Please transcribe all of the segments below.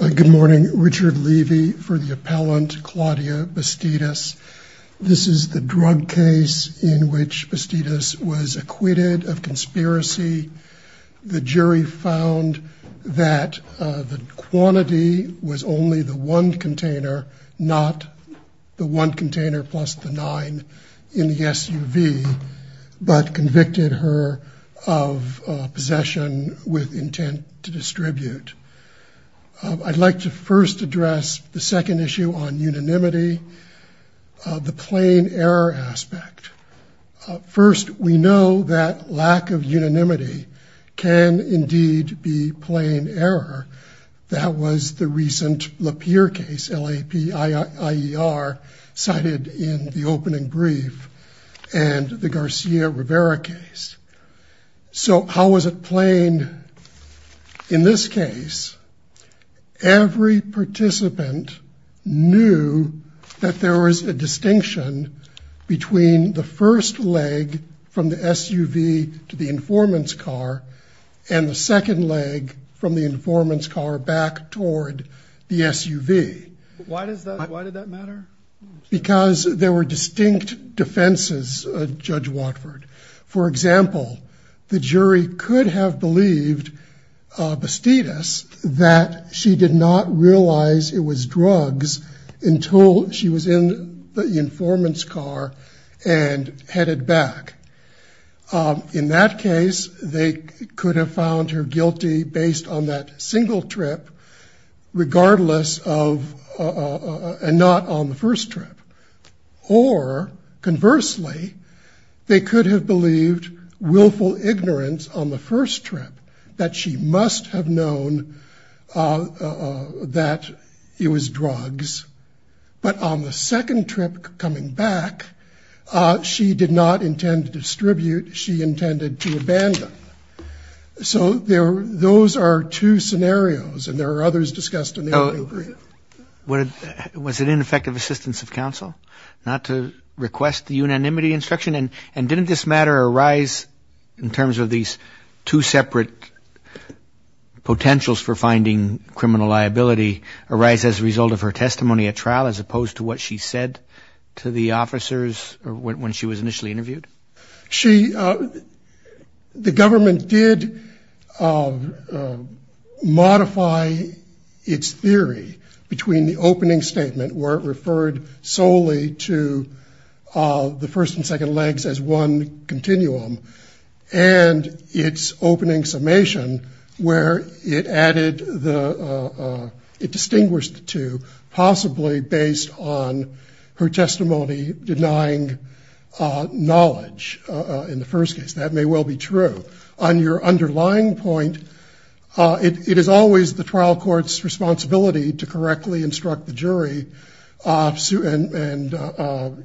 Good morning, Richard Levy for the appellant Claudia Bastidas. This is the drug case in which Bastidas was acquitted of conspiracy. The jury found that the quantity was only the one container, not the one container plus the nine in the SUV, but convicted her of possession with intent to distribute. I'd like to first address the second issue on unanimity, the plain error aspect. First, we know that lack of unanimity can indeed be plain error. That was the recent Lapeer case, L-A-P-I-E-R, cited in the opening brief and the Every participant knew that there was a distinction between the first leg from the SUV to the informant's car and the second leg from the informant's car back toward the SUV. Why did that matter? Because there were distinct defenses, Judge Watford. For example, the jury could have believed Bastidas that she did not realize it was drugs until she was in the informant's car and headed back. In that case, they could have found her guilty based on that single trip, regardless of, and not on the first trip. Or, conversely, they could have believed willful ignorance on the first trip, that she must have known that it was drugs, but on the second trip coming back, she did not intend to distribute, she intended to abandon. So those are two scenarios, and there are others discussed in the opening brief. Was it ineffective assistance of counsel not to request the unanimity instruction? And didn't this matter arise, in terms of these two separate potentials for finding criminal liability, arise as a result of her testimony at trial, as opposed to what she said to the officers when she was The government did modify its theory between the opening statement, where it referred solely to the first and second legs as one continuum, and its opening summation, where it added the, it distinguished the two, possibly based on her testimony denying knowledge in the first case. That may well be true. On your underlying point, it is always the trial court's responsibility to correctly instruct the jury, and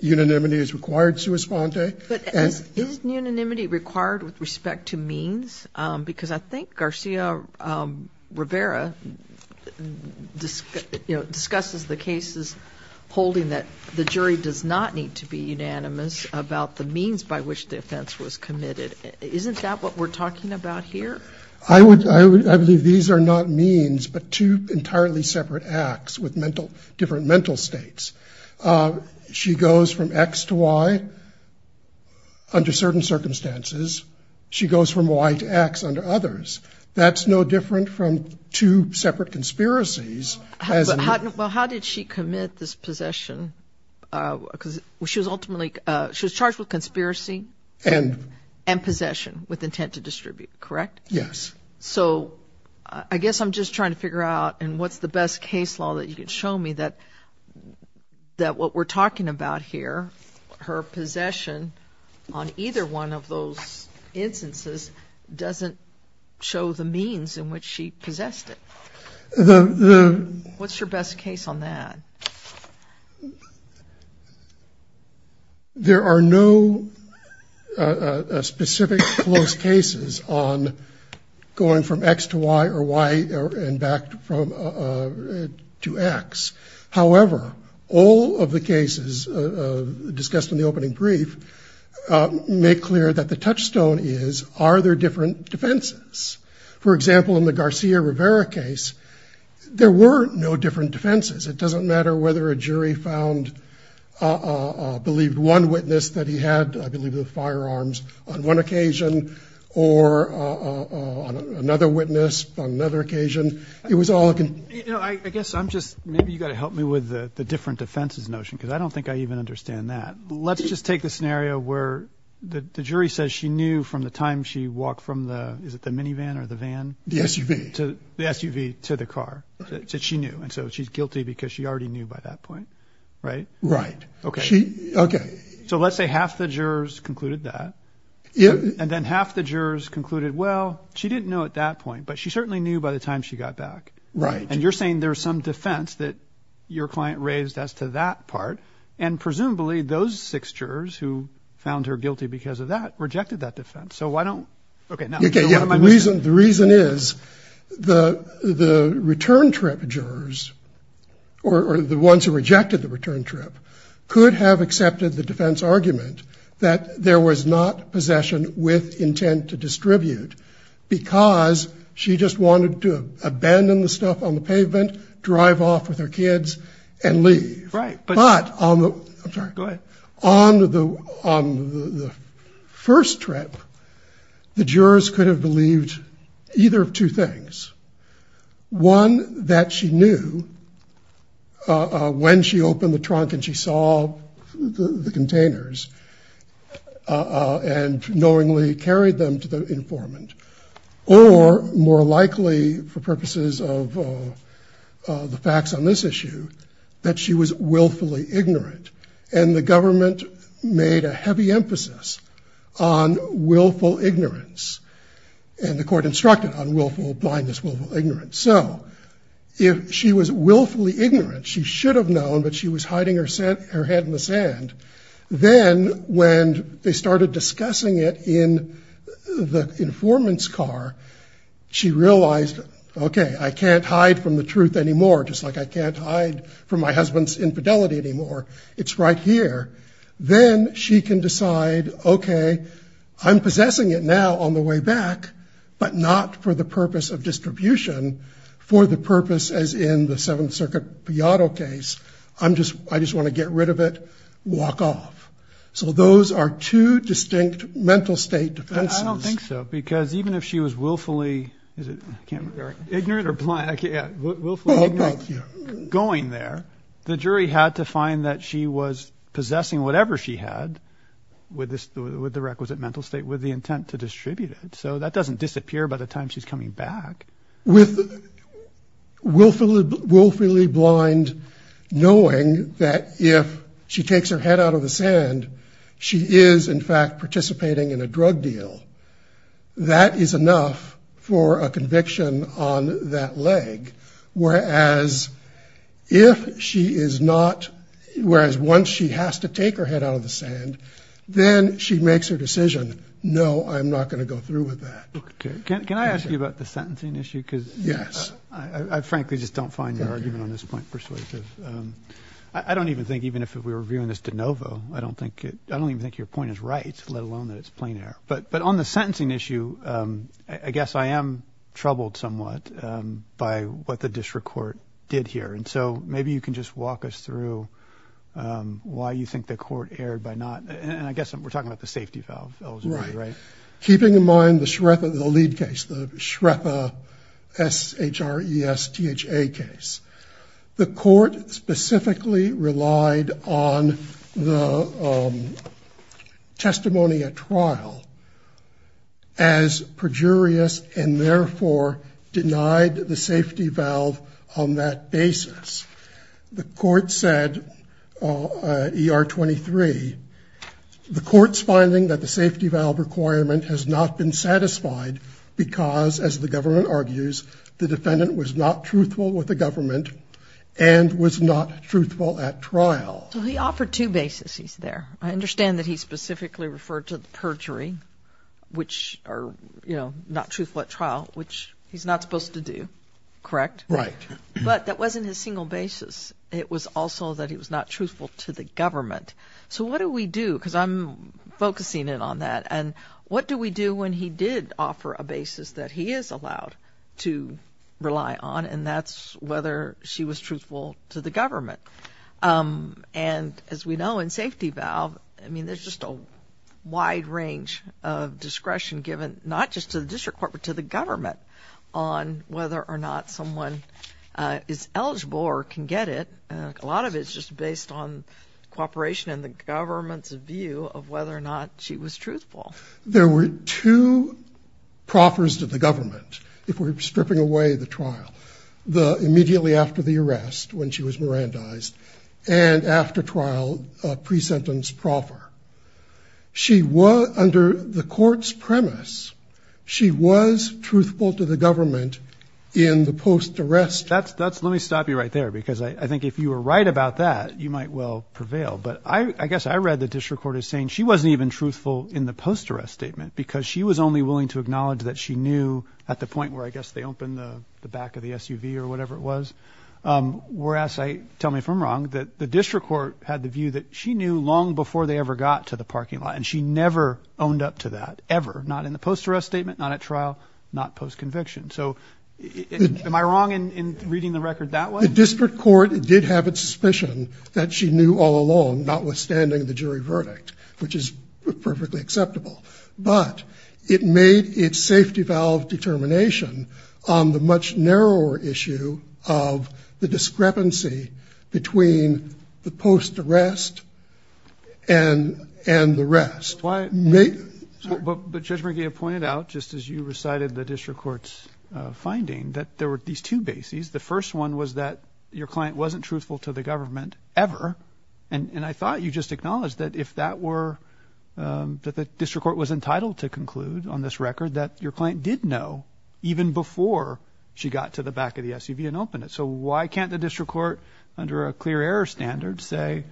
unanimity is required, sua sponte. But isn't unanimity required with respect to means? Because I think Garcia Rivera discusses the cases holding that the jury does not need to be unanimous about the means by which the offense was committed. Isn't that what we're talking about here? I would, I believe these are not means, but two entirely separate acts with mental, different mental states. She goes from X to Y under certain circumstances. She goes from Y to X under others. That's no different from two separate conspiracies. Well, how did she commit this possession? Because she was ultimately, she was charged with conspiracy and, and possession with intent to distribute, correct? Yes. So I guess I'm just trying to figure out and what's the best case law that you could show me that, that what we're talking about here, her possession on either one of those instances, doesn't show the means in which she possessed it. The, the, what's your best case on that? There are no specific close cases on going from X to Y or Y and back from, to X. However, all of the cases discussed in the opening brief, make clear that the Garcia Rivera case, there were no different defenses. It doesn't matter whether a jury found, uh, believed one witness that he had, I believe the firearms on one occasion or, uh, on another witness on another occasion, it was all, I guess I'm just, maybe you got to help me with the different defenses notion. Cause I don't think I even understand that. Let's just take the scenario where the jury says she knew from the time she walked from the, is it to the SUV to the car that she knew. And so she's guilty because she already knew by that point. Right. Right. Okay. Okay. So let's say half the jurors concluded that. Yeah. And then half the jurors concluded, well, she didn't know at that point, but she certainly knew by the time she got back. Right. And you're saying there's some defense that your client raised as to that part. And presumably those six jurors who found her guilty because of that rejected that Okay. Yeah. The reason, the reason is the, the return trip jurors or the ones who rejected the return trip could have accepted the defense argument that there was not possession with intent to distribute because she just wanted to abandon the stuff on the pavement, drive off with her kids and leave. Right. But on the, I'm sorry, go ahead. On the, on the first trip, the jurors could have believed either of two things. One that she knew when she opened the trunk and she saw the containers and knowingly carried them to the informant or more ignorant and the government made a heavy emphasis on willful ignorance and the court instructed on willful blindness, willful ignorance. So if she was willfully ignorant, she should have known, but she was hiding her head in the sand. Then when they started discussing it in the informant's car, she realized, okay, I can't hide from the truth anymore. Just like I can't hide from my husband's infidelity anymore. It's right here. Then she can decide, okay, I'm possessing it now on the way back, but not for the purpose of distribution for the purpose as in the Seventh Circuit Piado case. I'm just, I just want to get rid of it, walk off. So those are two distinct mental state defenses. I don't think so because even if she was willfully, is it can't be very ignorant or blind going there. The jury had to find that she was possessing whatever she had with this, with the requisite mental state, with the intent to distribute it. So that doesn't disappear by the time she's coming back. With willfully, willfully blind, knowing that if she takes her head out of the sand, she is in fact participating in a drug deal that is enough for a leg. Whereas if she is not, whereas once she has to take her head out of the sand, then she makes her decision. No, I'm not going to go through with that. Can I ask you about the sentencing issue? Cause I frankly just don't find your argument on this point persuasive. I don't even think even if we were reviewing this de novo, I don't think it, I don't even think your point is right, let alone that it's plain air, but, but on the sentencing issue I guess I am troubled somewhat, um, by what the district court did here. And so maybe you can just walk us through, um, why you think the court erred by not, and I guess we're talking about the safety valve, right? Keeping in mind the Shrepa, the lead case, the Shrepa S H R E S T H A case, the court specifically relied on the, um, testimony at trial as perjurious and therefore denied the safety valve on that basis. The court said, uh, ER 23, the court's finding that the safety valve requirement has not been satisfied because as the government argues, the defendant was not truthful with the government and was not truthful at trial. So he offered two basis, he's there. I understand that he specifically referred to the perjury, which are, you know, not truthful at trial, which he's not supposed to do, correct? Right. But that wasn't his single basis. It was also that he was not truthful to the government. So what do we do? Because I'm focusing in on that. And what do we do when he did offer a basis that he is allowed to rely on and that's whether she was truthful to the government. Um, and as we know in safety valve, I mean, there's just a wide range of discretion given, not just to the district court, but to the government on whether or not someone is eligible or can get it. A lot of it's just based on cooperation in the government's view of whether or not she was truthful. There were two proffers to the government. If we're stripping away the trial, the immediately after the arrest, when she was Miran dies and after trial, a pre-sentence proffer, she was under the court's premise. She was truthful to the government in the post arrest. That's, that's, let me stop you right there because I think if you were right about that, you might well prevail. But I guess I read the district court is saying she wasn't even truthful in the post arrest statement because she was only willing to acknowledge that she knew at the point where I guess they opened the back of the SUV or whatever it was. Um, whereas I tell me if I'm wrong, that the district court had the view that she knew long before they ever got to the parking lot and she never owned up to that ever, not in the post arrest statement, not at trial, not post conviction. So am I wrong in reading the record that way? The district court did have a suspicion that she knew all along, notwithstanding the jury verdict, which is perfectly acceptable, but it made it safety valve determination on the much narrower issue of the discrepancy between the post arrest and, and the rest. But Judge McGeeh pointed out, just as you recited the district court's finding that there were these two bases. The first one was that your client wasn't truthful to the government ever. And I thought you just acknowledged that if that were, um, that the district court was entitled to conclude on this record that your client did know even before she got to the back of the SUV and open it. So why can't the district court under a clear error standard say,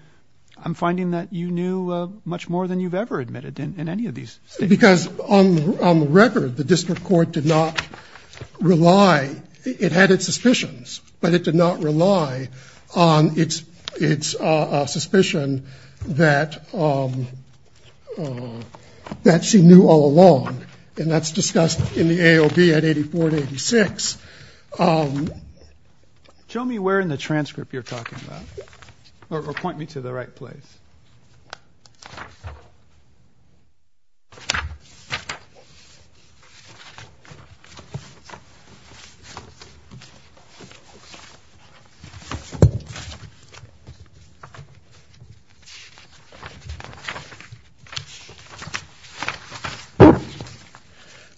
I'm finding that you knew much more than you've ever admitted in any of these? Because on, on the record, the district court did not rely. It had its suspicions, but it did not rely on its, its, uh, suspicion that, um, uh, that she knew all along. And that's discussed in the AOB at 84 to 86. Um, show me where in the transcript you're talking about or point me to the right place.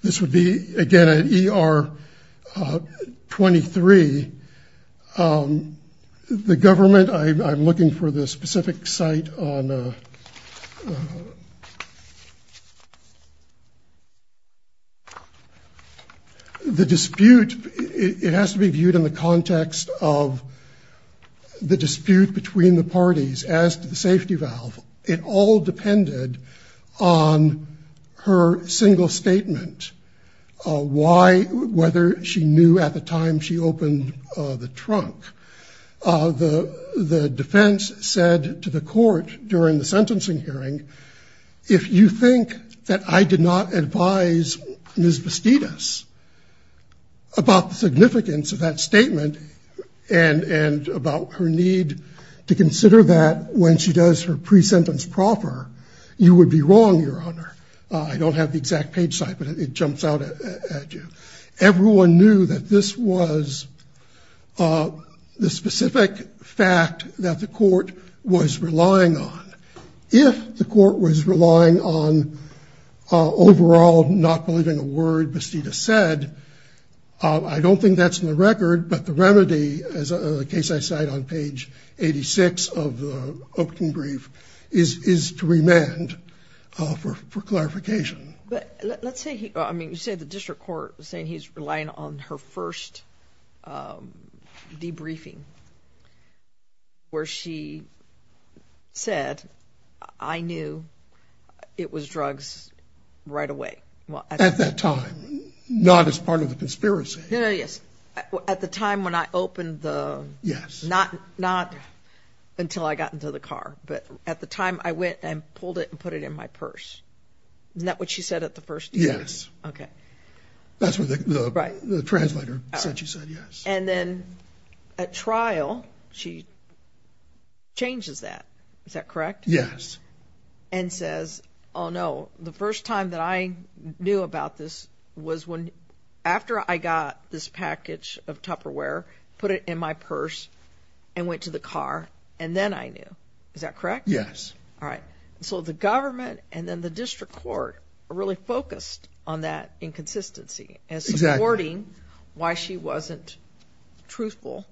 This would be again at ER, uh, 23. Um, the government, I'm looking for this specific site on, uh, the dispute. It has to be viewed in the context of the dispute between the her single statement, uh, why, whether she knew at the time she opened the trunk, uh, the, the defense said to the court during the sentencing hearing, if you think that I did not advise Ms. Bastidas about the significance of that statement and, and about her need to consider that when she does her I don't have the exact page site, but it jumps out at you. Everyone knew that this was, uh, the specific fact that the court was relying on. If the court was relying on, uh, overall, not believing a word Bastidas said, uh, I don't think that's in the record, but the remedy as a case I cite on page 86 of the opening is, is to remand, uh, for, for clarification. But let's say, I mean, you said the district court saying he's relying on her first, um, debriefing where she said, I knew it was drugs right away. Well, at that time, not as part of the conspiracy. Yes. At the time when I opened the, yes, not, not until I got into the car, but at the time I went and pulled it and put it in my purse. Is that what she said at the first? Yes. Okay. That's what the translator said. She said yes. And then at trial, she changes that. Is that correct? Yes. And says, oh no, the first time that I knew about this was when after I got this package of Tupperware, put it in my purse and went to the car and then I knew, is that correct? Yes. All right. So the government and then the district court really focused on that inconsistency as supporting why she wasn't truthful,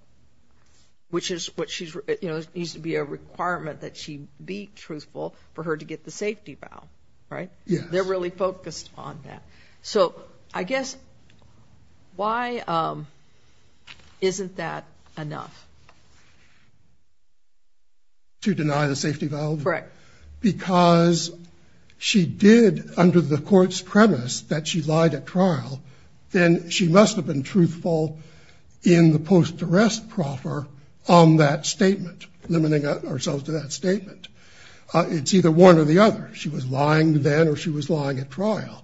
which is what she's, you know, it needs to be a requirement that she be truthful for her to get the safety valve, right? They're really focused on that. So I guess why, um, isn't that enough? To deny the safety valve? Right. Because she did under the court's premise that she lied at trial, then she must have been truthful in the post arrest proffer on that statement, limiting ourselves to that statement. Uh, it's either one or the other. She was lying then or she was lying at trial.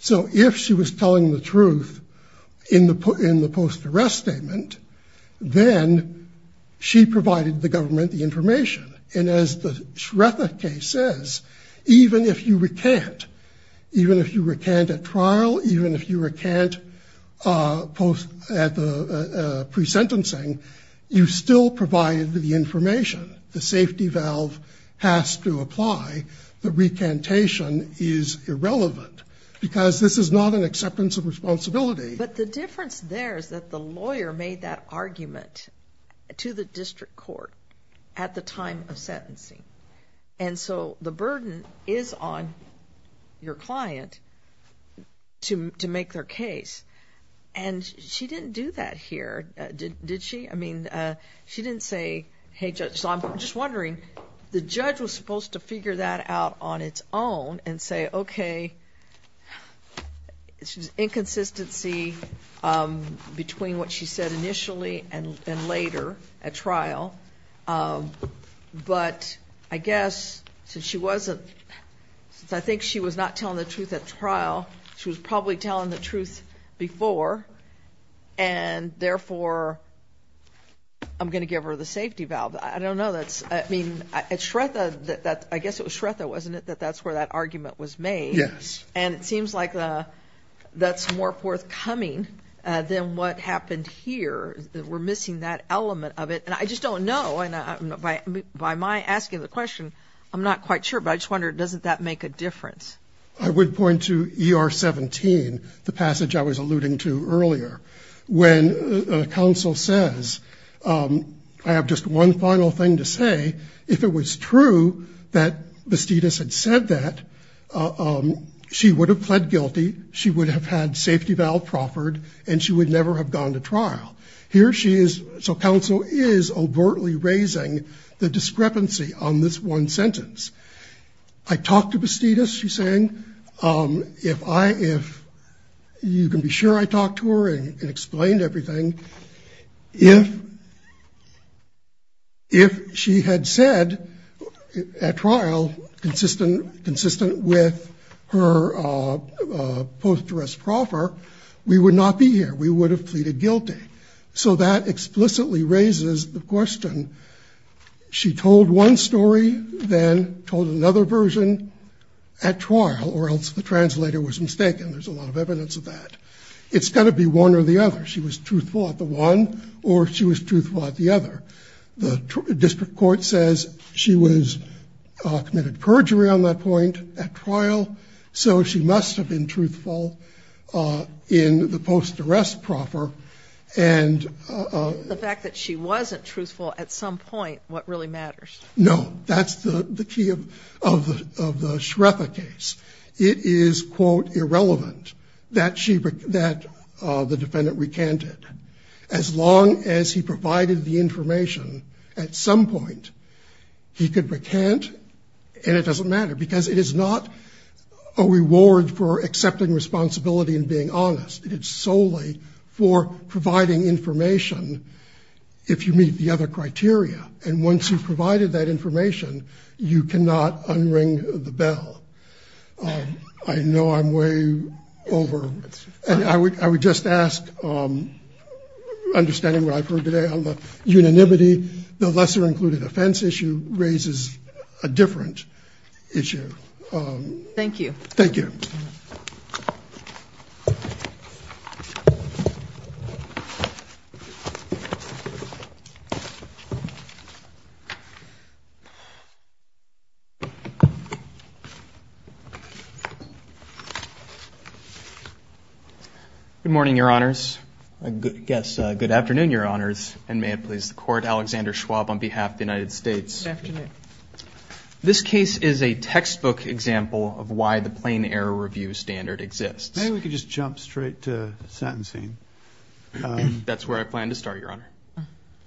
So if she was telling the truth in the, in the post arrest statement, then she provided the government the information. And as the Shretha case says, even if you recant, even if you recant at trial, even if you recant, uh, post at the, uh, pre sentencing, you still provided the information. The safety valve has to apply. The recantation is irrelevant because this is not an acceptance of responsibility. But the difference there is that the lawyer made that argument to the district court at the time of sentencing. And so the burden is on your client to, to make their case. And she didn't do that here. Did she? I mean, uh, she didn't say, Hey judge. So I'm just wondering, the judge was supposed to figure that out on its own and say, okay, it's just inconsistency, um, between what she said initially and later at trial. Um, but I guess since she wasn't, since I think she was not telling the truth at trial, she was probably telling the truth before and therefore I'm going to give her the safety valve. I don't know. That's, I mean, it's Shretha that, that I guess it was Shretha, wasn't it? That that's where that argument was made. And it seems like, uh, that's more forthcoming, uh, than what happened here. We're missing that element of it. And I just don't know. And by, by my asking the question, I'm not quite sure, but I just wondered, doesn't that make a difference? I would point to ER 17, the passage I was alluding to earlier when a council says, um, I have just one final thing to say, if it was true that Bastidas had said that, um, she would have pled guilty. She would have had safety valve proffered and she would never have gone to trial. Here she is. So council is overtly raising the discrepancy on this one sentence. I talked to Bastidas. She's saying, um, if I, if you can be sure I talked to her and explained everything, if she had said at trial, consistent, consistent with her, uh, uh, post arrest proffer, we would not be here. We would have pleaded guilty. So that explicitly raises the question. She told one story, then told another version at trial or else the translator was mistaken. There's a lot of evidence of that. It's gotta be one or the other. She was truthful at the one or she was district court says she was committed perjury on that point at trial. So she must have been truthful, uh, in the post arrest proffer. And, uh, the fact that she wasn't truthful at some point, what really matters? No, that's the key of, of, of the Shretha case. It is quote irrelevant that she, that the defendant recanted as long as he provided the information at some point he could recant and it doesn't matter because it is not a reward for accepting responsibility and being honest. It's solely for providing information if you meet the other criteria. And once you've provided that information, you cannot unring the bell. Um, I know I'm way over and I would, I would just ask, um, understanding what I've heard today on the unanimity, the lesser included offense issue raises a different issue. Um, thank you. Thank you. Good morning, your honors. I guess. Uh, good afternoon, your honors. And may it please the court, Alexander Schwab on behalf of the United States. This case is a textbook example of why the plain error review standard exists. Maybe we could just jump straight to sentencing. That's where I plan to start your honor.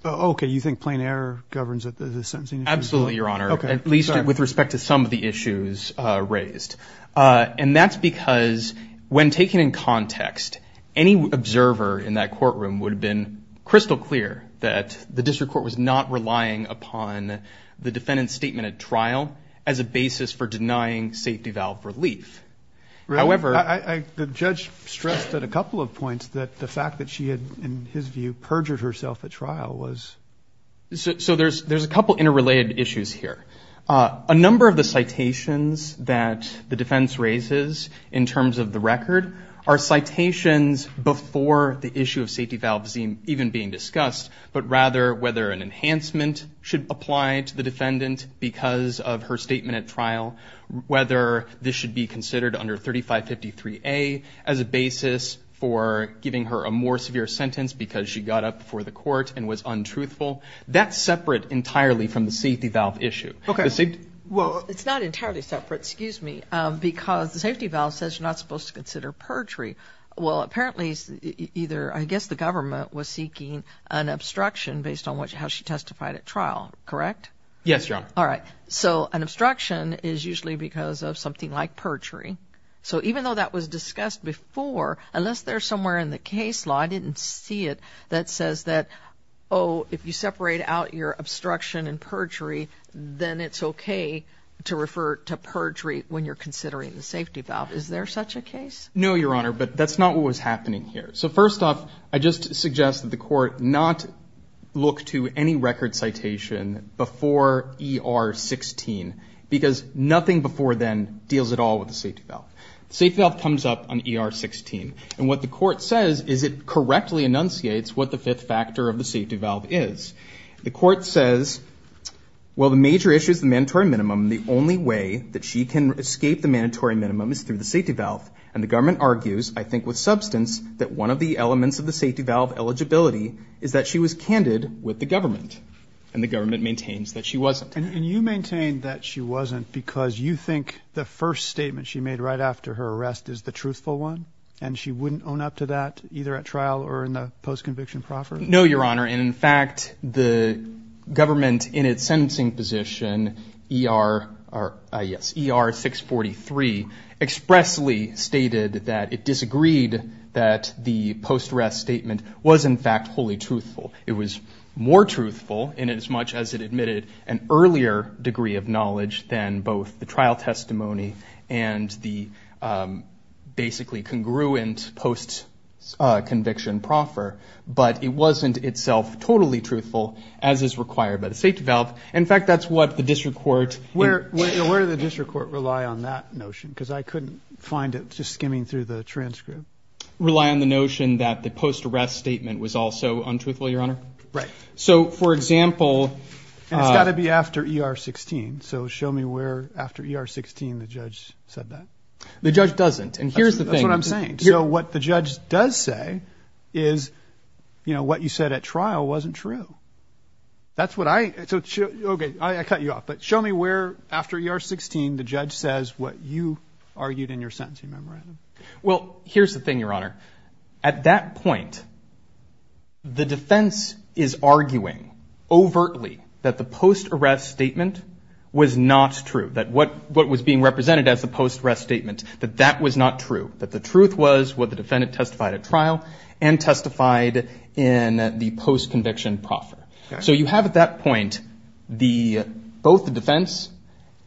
Okay. You think plain error governs that the sentencing? Absolutely. Your honor. I agree with some of the issues raised. Uh, and that's because when taken in context, any observer in that courtroom would have been crystal clear that the district court was not relying upon the defendant's statement at trial as a basis for denying safety valve relief. However, I, the judge stressed that a couple of points that the fact that she had, in his view, perjured herself at trial was, so there's, there's a couple of interrelated issues here. Uh, a number of the citations that the defense raises in terms of the record are citations before the issue of safety valve seem even being discussed, but rather whether an enhancement should apply to the defendant because of her statement at trial, whether this should be considered under 3553 a as a basis for giving her a more severe sentence because she got up for the court and was untruthful. That's it's not entirely separate, excuse me, because the safety valve says you're not supposed to consider perjury. Well, apparently either, I guess the government was seeking an obstruction based on what, how she testified at trial, correct? Yes, John. All right. So an obstruction is usually because of something like perjury. So even though that was discussed before, unless there's somewhere in the case law, I didn't see it that says that, oh, if you to refer to perjury when you're considering the safety valve, is there such a case? No, Your Honor, but that's not what was happening here. So first off, I just suggest that the court not look to any record citation before ER 16 because nothing before then deals at all with the safety valve. Safety valve comes up on ER 16 and what the court says is it correctly enunciates what the fifth factor of the safety valve is. The court says, well, the major issues, the mandatory minimum, the only way that she can escape the mandatory minimum is through the safety valve. And the government argues, I think with substance, that one of the elements of the safety valve eligibility is that she was candid with the government and the government maintains that she wasn't. And you maintain that she wasn't because you think the first statement she made right after her arrest is the truthful one and she wouldn't own up to that either at trial or in the post-conviction proffer? No, Your Honor. And in fact, the court in ER 643 expressly stated that it disagreed that the post-arrest statement was, in fact, wholly truthful. It was more truthful in as much as it admitted an earlier degree of knowledge than both the trial testimony and the basically congruent post-conviction proffer, but it wasn't itself totally truthful as is required by the safety valve. In fact, that's what the district court... Where did the district court rely on that notion? Because I couldn't find it just skimming through the transcript. Rely on the notion that the post-arrest statement was also untruthful, Your Honor? Right. So, for example... It's got to be after ER 16, so show me where after ER 16 the judge said that. The judge doesn't. And here's the thing... That's what I'm saying. So what the judge does say is, you know, what you said at trial wasn't true. That's what I... Okay, I cut you off, but show me where after ER 16 the judge says what you argued in your sentencing memorandum. Well, here's the thing, Your Honor. At that point, the defense is arguing overtly that the post-arrest statement was not true. That what was being represented as the post-arrest statement, that that was not true. That the truth was what the defendant testified at trial and testified in the post-conviction proffer. So you have, at that point, both the defense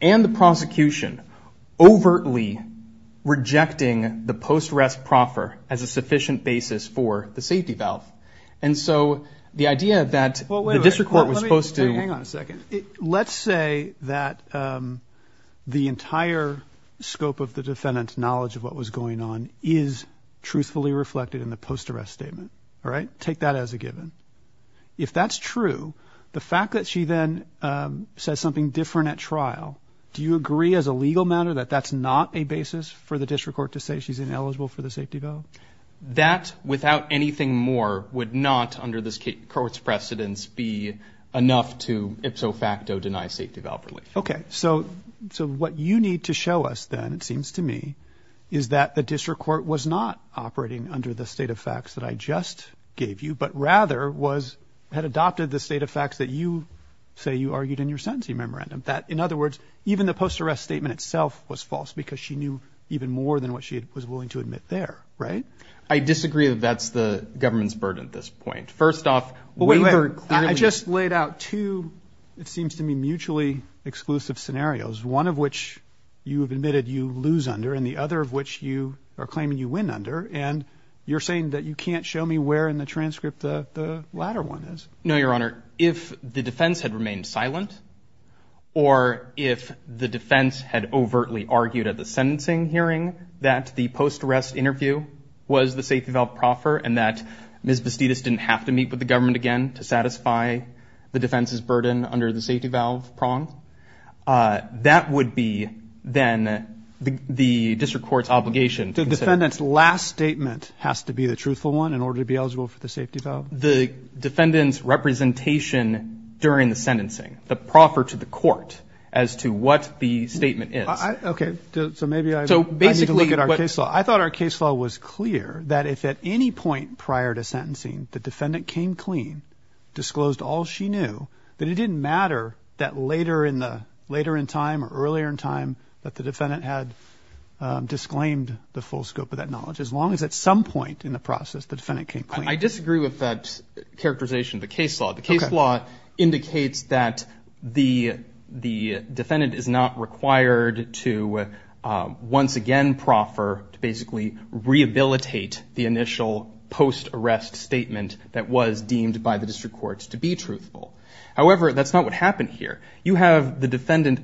and the prosecution overtly rejecting the post-arrest proffer as a sufficient basis for the safety valve. And so the idea that the district court was supposed to... Hang on a second. Let's say that the entire scope of the defendant's knowledge of what was going on is truthfully reflected in the post-arrest statement. All right? Take that as a given. If that's true, the fact that she then says something different at trial, do you agree as a legal matter that that's not a basis for the district court to say she's ineligible for the safety valve? That, without anything more, would not, under this court's precedence, be enough to ipso facto deny safety valve relief? Okay. So, so what you need to show us then, it seems to me, is that the district court was not operating under the state of facts that I just gave you, but rather was, had adopted the state of facts that you say you argued in your sentencing memorandum. That, in other words, even the post-arrest statement itself was false because she knew even more than what she was willing to admit there, right? I disagree that that's the government's burden at this point. First exclusive scenarios, one of which you have admitted you lose under, and the other of which you are claiming you win under, and you're saying that you can't show me where in the transcript the latter one is. No, Your Honor. If the defense had remained silent, or if the defense had overtly argued at the sentencing hearing that the post-arrest interview was the safety valve proffer, and that Ms. Vestitis didn't have to meet with the government again to satisfy the defense's burden under the safety valve prong, that would be, then, the district court's obligation. The defendant's last statement has to be the truthful one in order to be eligible for the safety valve? The defendant's representation during the sentencing, the proffer to the court, as to what the statement is. Okay, so maybe I need to look at our case law. I thought our case law was clear that if at any point prior to sentencing the defendant came clean, disclosed all she knew, that it didn't matter that later in the, later in time, or earlier in time, that the defendant had disclaimed the full scope of that knowledge. As long as at some point in the process the defendant came clean. I disagree with that characterization of the case law. The case law indicates that the defendant is not required to once again proffer, to basically rehabilitate the initial post-arrest statement that was deemed by the district courts to be truthful. However, that's not what happened here. You have the defendant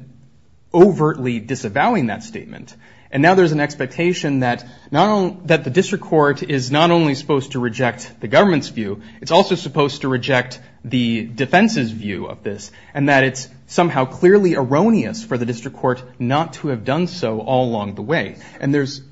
overtly disavowing that statement, and now there's an expectation that not only, that the district court is not only supposed to reject the government's view, it's also supposed to reject the defense's view of this, and that it's somehow clearly erroneous for the district court not to have done so all along the way. And there's,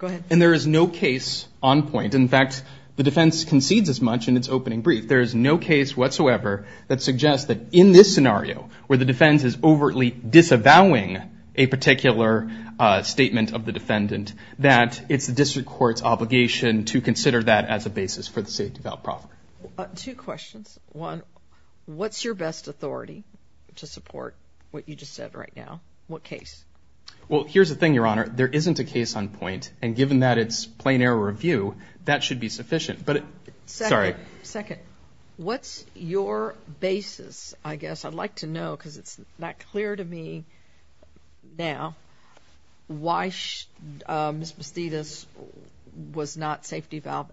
and there is no case on point. In fact, the defense concedes as much in its opening brief. There is no case whatsoever that suggests that in this scenario, where the defense is overtly disavowing a particular statement of the defendant, that it's the district court's obligation to consider that as a basis for the safety valve proffering. Two questions. One, what's your best authority to support what you just said right now? What case? Well, here's the thing, Your Honor. There isn't a case on point, and given that it's plain error review, that should be sufficient. But, sorry. Second, what's your basis? I guess I'd like to know, because it's not clear to me now, why Ms. Bastidas was not safety valve.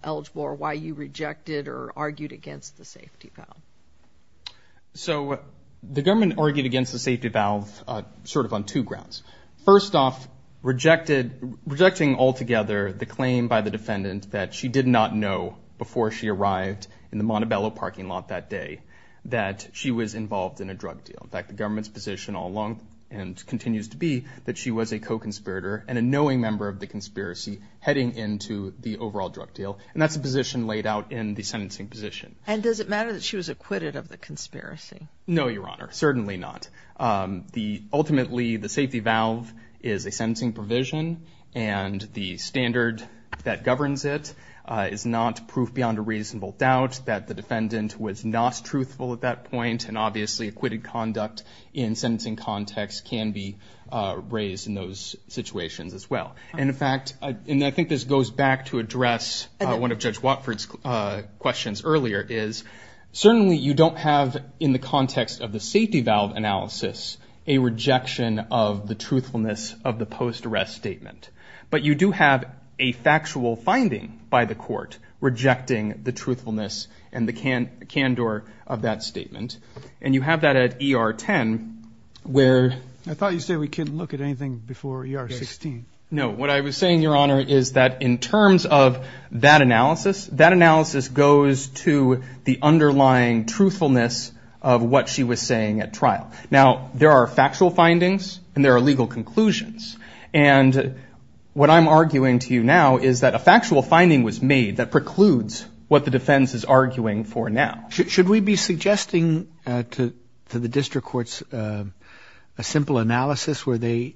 So, the government argued against the safety valve sort of on two grounds. First off, rejected, rejecting altogether the claim by the defendant that she did not know before she arrived in the Montebello parking lot that day that she was involved in a drug deal. In fact, the government's position all along, and continues to be, that she was a co-conspirator and a knowing member of the conspiracy heading into the overall drug deal. And that's a position laid out in the sentencing position. And does it matter that she was acquitted of the conspiracy? No, Your Honor. Certainly not. Ultimately, the safety valve is a sentencing provision, and the standard that governs it is not proof beyond a reasonable doubt that the defendant was not truthful at that point. And obviously, acquitted conduct in sentencing context can be raised in those situations as well. And in fact, and I think this goes back to address one of Judge Watford's questions earlier, is certainly you don't have in the context of the safety valve analysis a rejection of the truthfulness of the post-arrest statement. But you do have a factual finding by the court rejecting the truthfulness and the candor of that statement. And you have that at ER 10, where... I thought you said we couldn't look at anything before ER 16. No, what I was saying, Your Honor, is that in terms of that analysis, that analysis goes to the underlying truthfulness of what she was saying at trial. Now, there are factual findings and there are legal conclusions. And what I'm arguing to you now is that a factual finding was made that precludes what the defense is arguing for now. Should we be suggesting to the district courts a simple analysis where they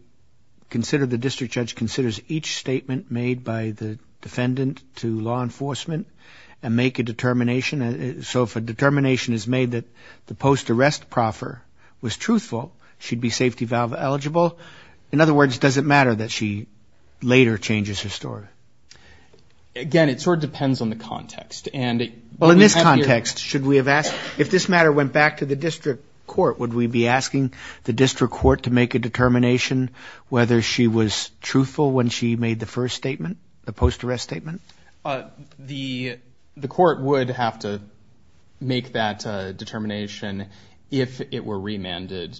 consider, the district judge considers, each statement made by the defendant to law enforcement and make a determination? So if a determination is made that the post-arrest proffer was truthful, she'd be safety valve eligible? In other words, does it matter that she later changes her story? Again, it sort of depends on the context. And... Well, in this context, should we have asked... If this matter went back to the district court, would we be asking the district court to make a determination whether she was truthful when she made the first statement, the post-arrest statement? The court would have to make that determination if it were remanded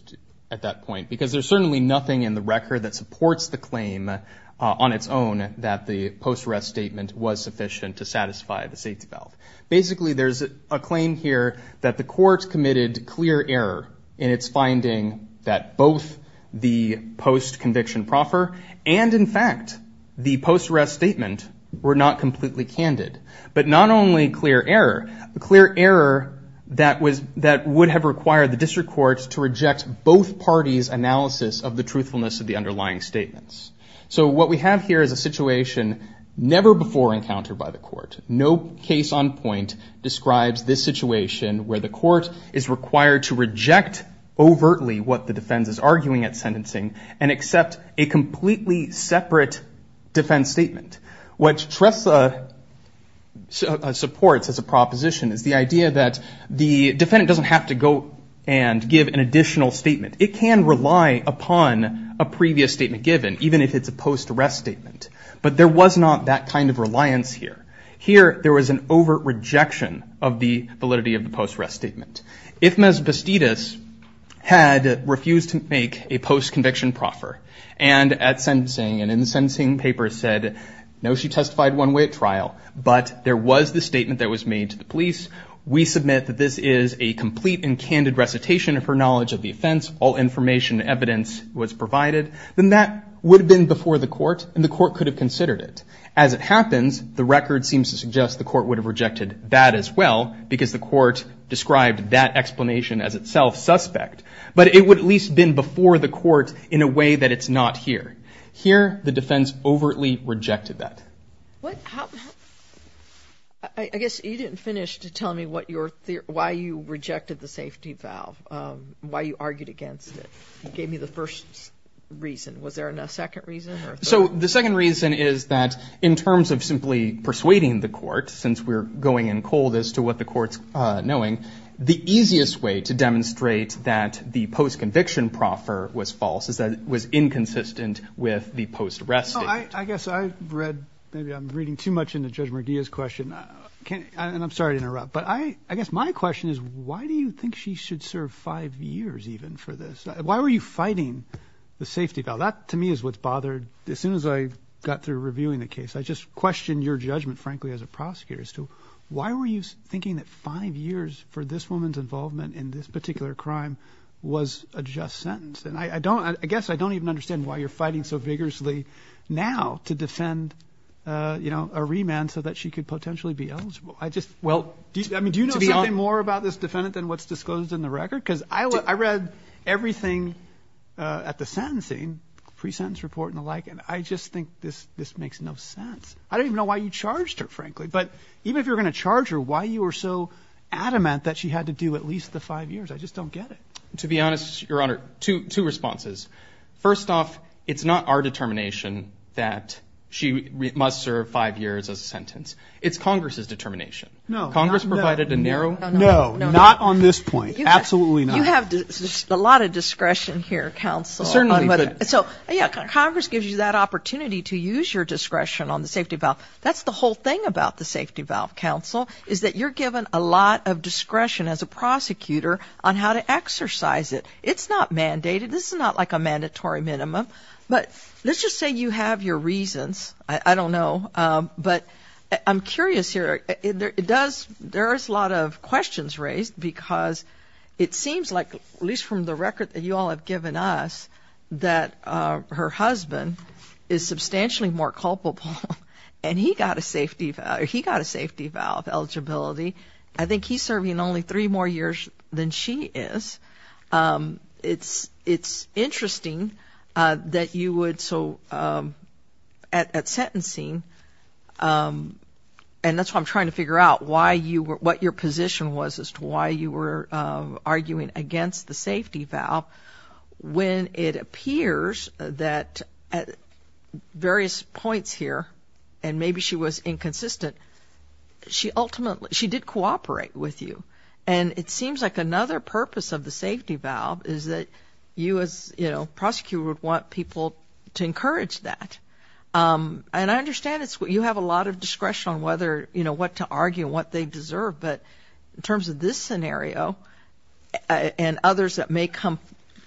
at that point, because there's certainly nothing in the record that supports the claim on its own that the post-arrest statement was sufficient to satisfy the safety valve. Basically, there's a claim here that the court committed clear error in its finding that both the post-conviction proffer and, in fact, the post-arrest statement were not completely candid. But not only clear error, clear error that would have required the district courts to reject both parties' analysis of the truthfulness of the underlying statements. So what we have here is a situation where the court is required to reject overtly what the defense is arguing at sentencing and accept a completely separate defense statement. What Shrestha supports as a proposition is the idea that the defendant doesn't have to go and give an additional statement. It can rely upon a previous statement given, even if it's a post-arrest statement. But there was not that kind of reliance here. Here, there was an overt rejection of the validity of the post-arrest statement. If Ms. Bastidas had refused to make a post- conviction proffer and at sentencing and in the sentencing paper said, no, she testified one way at trial, but there was the statement that was made to the police, we submit that this is a complete and candid recitation of her knowledge of the offense, all information and evidence was provided, then that would have been before the court and the court could have considered it. As it happens, the record seems to suggest the court would have rejected that as well, because the court described that explanation as itself suspect, but it would at least been before the court in a way that it's not here. Here, the defense overtly rejected that. I guess you didn't finish to tell me what your theory, why you rejected the safety valve, why you argued against it. You gave me the first reason. Was there a second reason? So the second reason is that in terms of simply persuading the court, since we're going in cold as to what the court's knowing, the easiest way to demonstrate that the post-conviction proffer was false is that it was inconsistent with the post-arrest statement. I guess I read, maybe I'm reading too much into Judge Murguia's question, and I'm sorry to interrupt, but I guess my question is why do you think she should serve five years even for this? Why were you fighting the safety valve? That to me is what's bothered, as soon as I got through reviewing the case, I just questioned your judgment, frankly, as a prosecutor, as to why were you thinking that five years for this woman's involvement in this particular crime was a just sentence? And I don't, I guess I don't even understand why you're fighting so vigorously now to defend, you know, a remand so that she could potentially be eligible. I just, well, I mean do you know more about this defendant than what's I read everything at the sentencing, pre-sentence report and the like, and I just think this this makes no sense. I don't even know why you charged her, frankly, but even if you're gonna charge her, why you were so adamant that she had to do at least the five years? I just don't get it. To be honest, Your Honor, two responses. First off, it's not our determination that she must serve five years as a sentence. It's Congress's determination. No. Congress provided a lot of discretion here, counsel. So yeah, Congress gives you that opportunity to use your discretion on the safety valve. That's the whole thing about the safety valve, counsel, is that you're given a lot of discretion as a prosecutor on how to exercise it. It's not mandated. This is not like a mandatory minimum, but let's just say you have your reasons. I don't know, but I'm curious here. It does, there is a lot of questions raised because it seems like, at least from the record that you all have given us, that her husband is substantially more culpable and he got a safety, he got a safety valve eligibility. I think he's serving only three more years than she is. It's, it's interesting that you would, so at sentencing, and that's why I'm trying to figure out why you were, what your position was as to why you were arguing against the safety valve, when it appears that at various points here, and maybe she was inconsistent, she ultimately, she did cooperate with you. And it seems like another purpose of the safety valve is that you as, you know, prosecutor would want people to encourage that. And I understand it's, you have a lot of discretion on whether, you know, what to argue, what they deserve, but in terms of this scenario and others that may come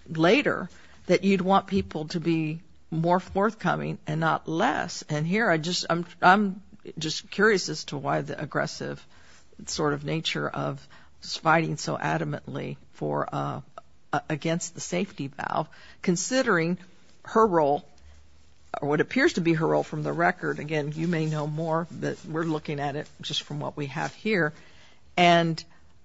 later, that you'd want people to be more forthcoming and not less. And here I just, I'm just curious as to why the aggressive sort of nature of fighting so against the safety valve, considering her role, or what appears to be her role from the record. Again, you may know more, but we're looking at it just from what we have here. And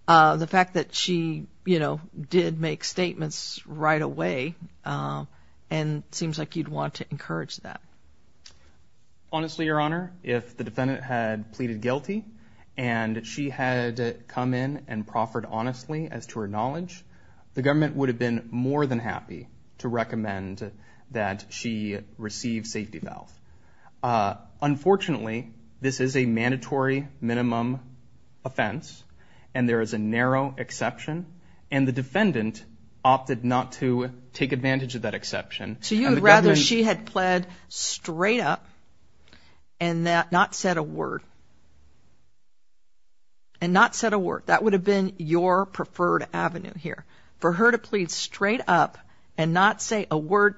the fact that she, you know, did make statements right away and seems like you'd want to encourage that. Honestly, Your Honor, if the defendant had pleaded guilty and she had come in and proffered honestly as to her knowledge, the government would have been more than happy to recommend that she receive safety valve. Unfortunately, this is a mandatory minimum offense and there is a narrow exception. And the defendant opted not to take advantage of that exception. So you'd rather she had pled straight up and that not said a word. And not said a word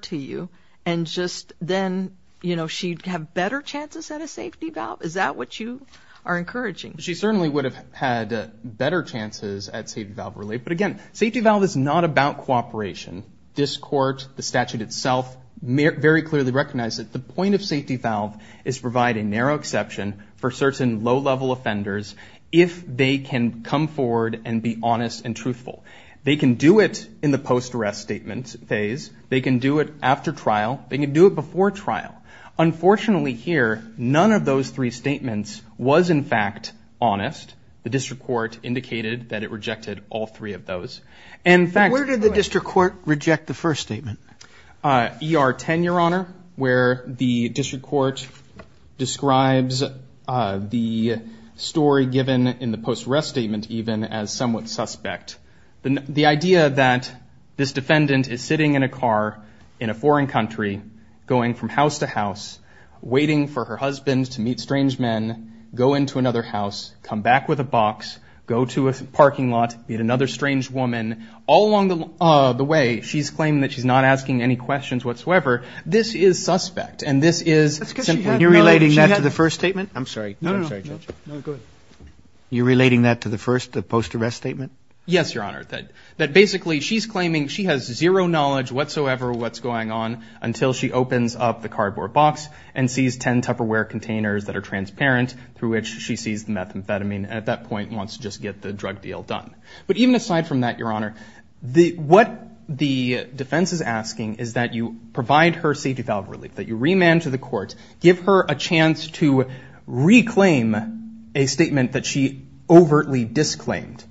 to you. And just then, you know, she'd have better chances at a safety valve. Is that what you are encouraging? She certainly would have had better chances at safety valve relief. But again, safety valve is not about cooperation. This court, the statute itself, very clearly recognized that the point of safety valve is providing narrow exception for certain low level offenders. If they can come forward and be honest and truthful. They can do it in the post arrest statement phase. They can do it after trial. They can do it before trial. Unfortunately, here, none of those three statements was in fact honest. The district court indicated that it rejected all three of those. In fact, Where did the district court reject the first statement? ER 10, Your Honor, where the district court describes the story given in the post arrest statement even as somewhat suspect. The idea that this defendant is sitting in a car in a foreign country, going from house to house, waiting for her husband to meet strange men, go into another house, come back with a box, go to a parking lot, meet another strange woman. All along the way, she's claiming that she's not asking any questions whatsoever. This is suspect. And this is, you're relating that to the first statement? I'm sorry. You're relating that to the first post arrest statement? Yes, Your Honor. That basically she's claiming she has zero knowledge whatsoever what's going on until she opens up the cardboard box and sees 10 Tupperware containers that are transparent through which she sees the methamphetamine and at that point wants to just get the drug deal done. But even is asking is that you provide her safety valve relief, that you remand to the court, give her a chance to reclaim a statement that she overtly disclaimed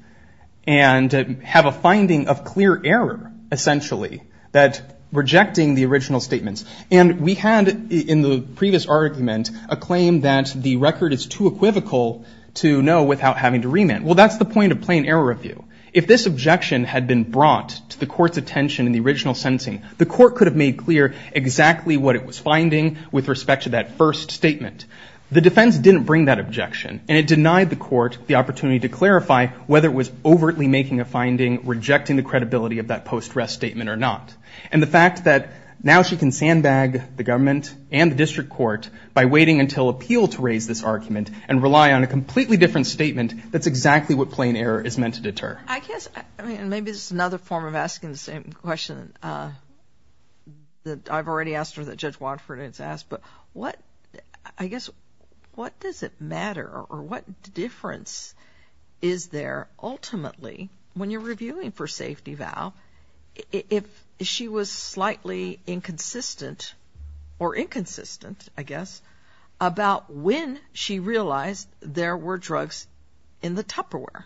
and have a finding of clear error, essentially, that rejecting the original statements. And we had in the previous argument a claim that the record is too equivocal to know without having to remand. Well, that's the point of plain error review. If this objection had been brought to the court's attention in the original sensing, the court could have made clear exactly what it was finding with respect to that first statement. The defense didn't bring that objection and it denied the court the opportunity to clarify whether it was overtly making a finding, rejecting the credibility of that post arrest statement or not. And the fact that now she can sandbag the government and the district court by waiting until appeal to raise this argument and rely on a completely different statement, that's exactly what plain error is meant to deter. I guess, I mean, maybe this is another form of asking the same question that I've already asked her that Judge Wadford has asked. But what, I guess, what does it matter or what difference is there ultimately when you're reviewing for safety valve if she was slightly inconsistent or inconsistent, I guess, about when she realized there were drugs in the Tupperware?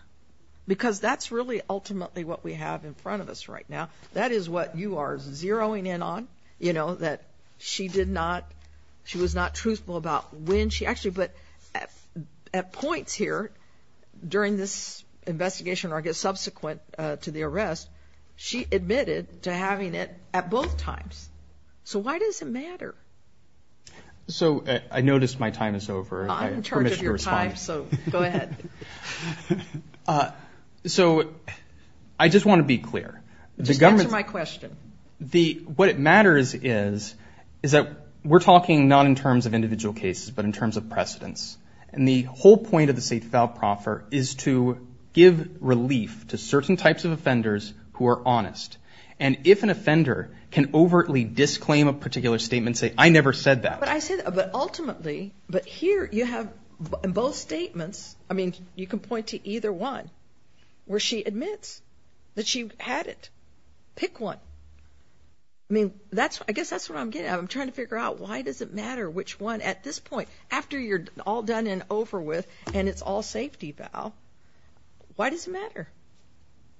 Because that's really ultimately what we have in front of us right now. That is what you are zeroing in on, you know, that she did not, she was not truthful about when she actually, but at points here during this investigation or I guess subsequent to the arrest, she admitted to having it at both times. So why does it matter? So I just want to be clear. Just answer my question. What it matters is, is that we're talking not in terms of individual cases, but in terms of precedence. And the whole point of the safety valve proffer is to give relief to certain types of offenders who are honest. And if an offender can overtly disclaim a particular statement, say, I never said that. But I said, but ultimately, but here you have both statements. I mean, you can point to either one where she admits that she had it. Pick one. I mean, that's I guess that's what I'm getting at. I'm trying to figure out why does it matter which one at this point after you're all done and over with and it's all safety valve. Why does it matter?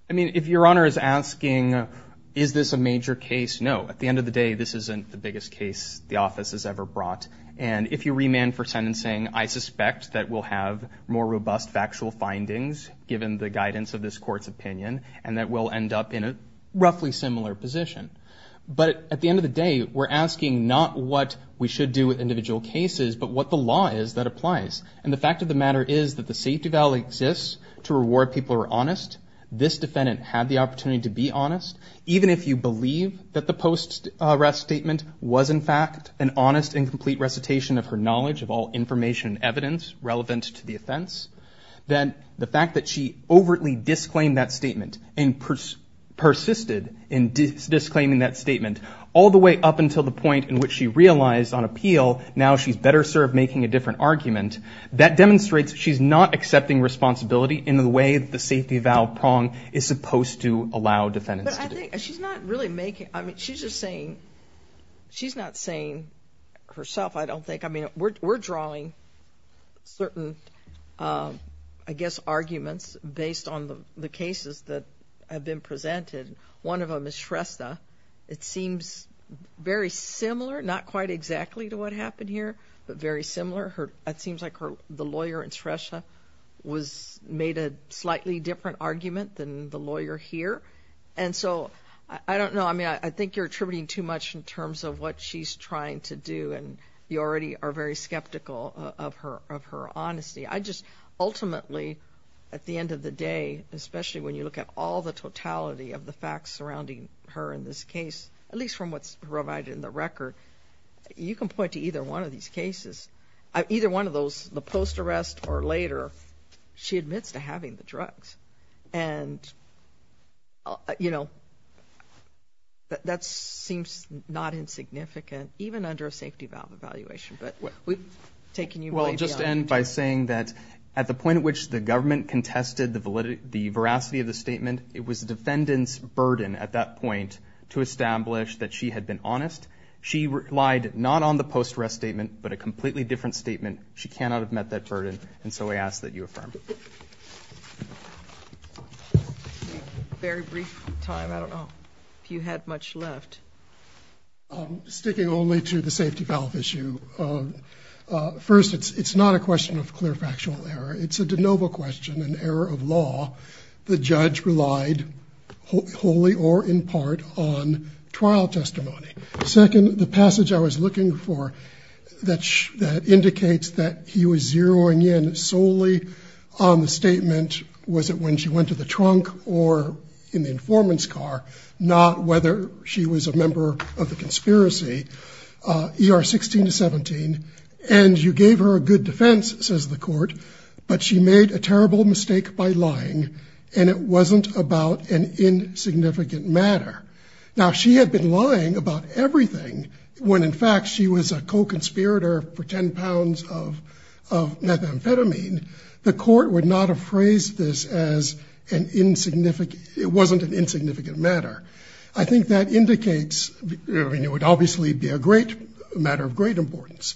I mean, if your honor is asking, is this a major case? No, at the end of the day, this isn't the biggest case the office has ever brought. And if you remand for defendants saying, I suspect that we'll have more robust factual findings given the guidance of this court's opinion, and that we'll end up in a roughly similar position. But at the end of the day, we're asking not what we should do with individual cases, but what the law is that applies. And the fact of the matter is that the safety valve exists to reward people who are honest. This defendant had the opportunity to be honest. Even if you believe that the post arrest statement was in fact an honest and complete recitation of her information and evidence relevant to the offense, then the fact that she overtly disclaimed that statement and persisted in disclaiming that statement all the way up until the point in which she realized on appeal, now she's better served making a different argument. That demonstrates she's not accepting responsibility in the way the safety valve prong is supposed to allow defendants to do. She's not really making, I mean, she's just saying, she's not saying herself, I don't think. I mean, we're drawing certain, I guess, arguments based on the cases that have been presented. One of them is Shrestha. It seems very similar, not quite exactly to what happened here, but very similar. It seems like the lawyer in Shrestha was made a slightly different argument than the lawyer here. And so, I don't know, I mean, I think you're attributing too much in terms of what she's trying to do and you already are very skeptical of her, of her honesty. I just, ultimately, at the end of the day, especially when you look at all the totality of the facts surrounding her in this case, at least from what's provided in the record, you can point to either one of these cases, either one of those, the post arrest or later, she admits to not insignificant, even under a safety valve evaluation. But we've taken you well, just end by saying that at the point at which the government contested the validity, the veracity of the statement, it was the defendant's burden at that point to establish that she had been honest. She relied not on the post arrest statement, but a completely different statement. She cannot have met that burden. And so I ask that you affirm. Very brief time. I don't know if you had much left. I'm sticking only to the safety valve issue. First, it's not a question of clear factual error. It's a de novo question, an error of law. The judge relied wholly or in part on trial testimony. Second, the passage I was on the statement, was it when she went to the trunk or in the informant's car, not whether she was a member of the conspiracy, ER 16 to 17, and you gave her a good defense, says the court, but she made a terrible mistake by lying. And it wasn't about an insignificant matter. Now she had been lying about everything when in fact, she was a co-conspirator for 10 pounds of methamphetamine. The court would not have phrased this as an insignificant, it wasn't an insignificant matter. I think that indicates, I mean, it would obviously be a great matter of great importance.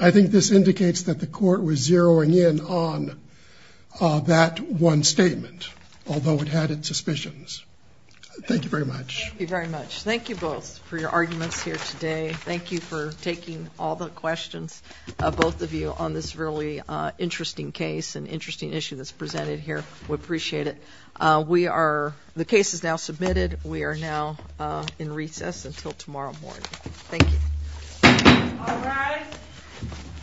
I think this indicates that the court was zeroing in on that one statement, although it had its suspicions. Thank you very much. Thank you very much. Thank you both for your arguments here today. Thank you for taking all the questions of both of you on this really interesting case and interesting issue that's presented here. We appreciate it. We are, the case is now submitted. We are now in recess until tomorrow morning. Thank you.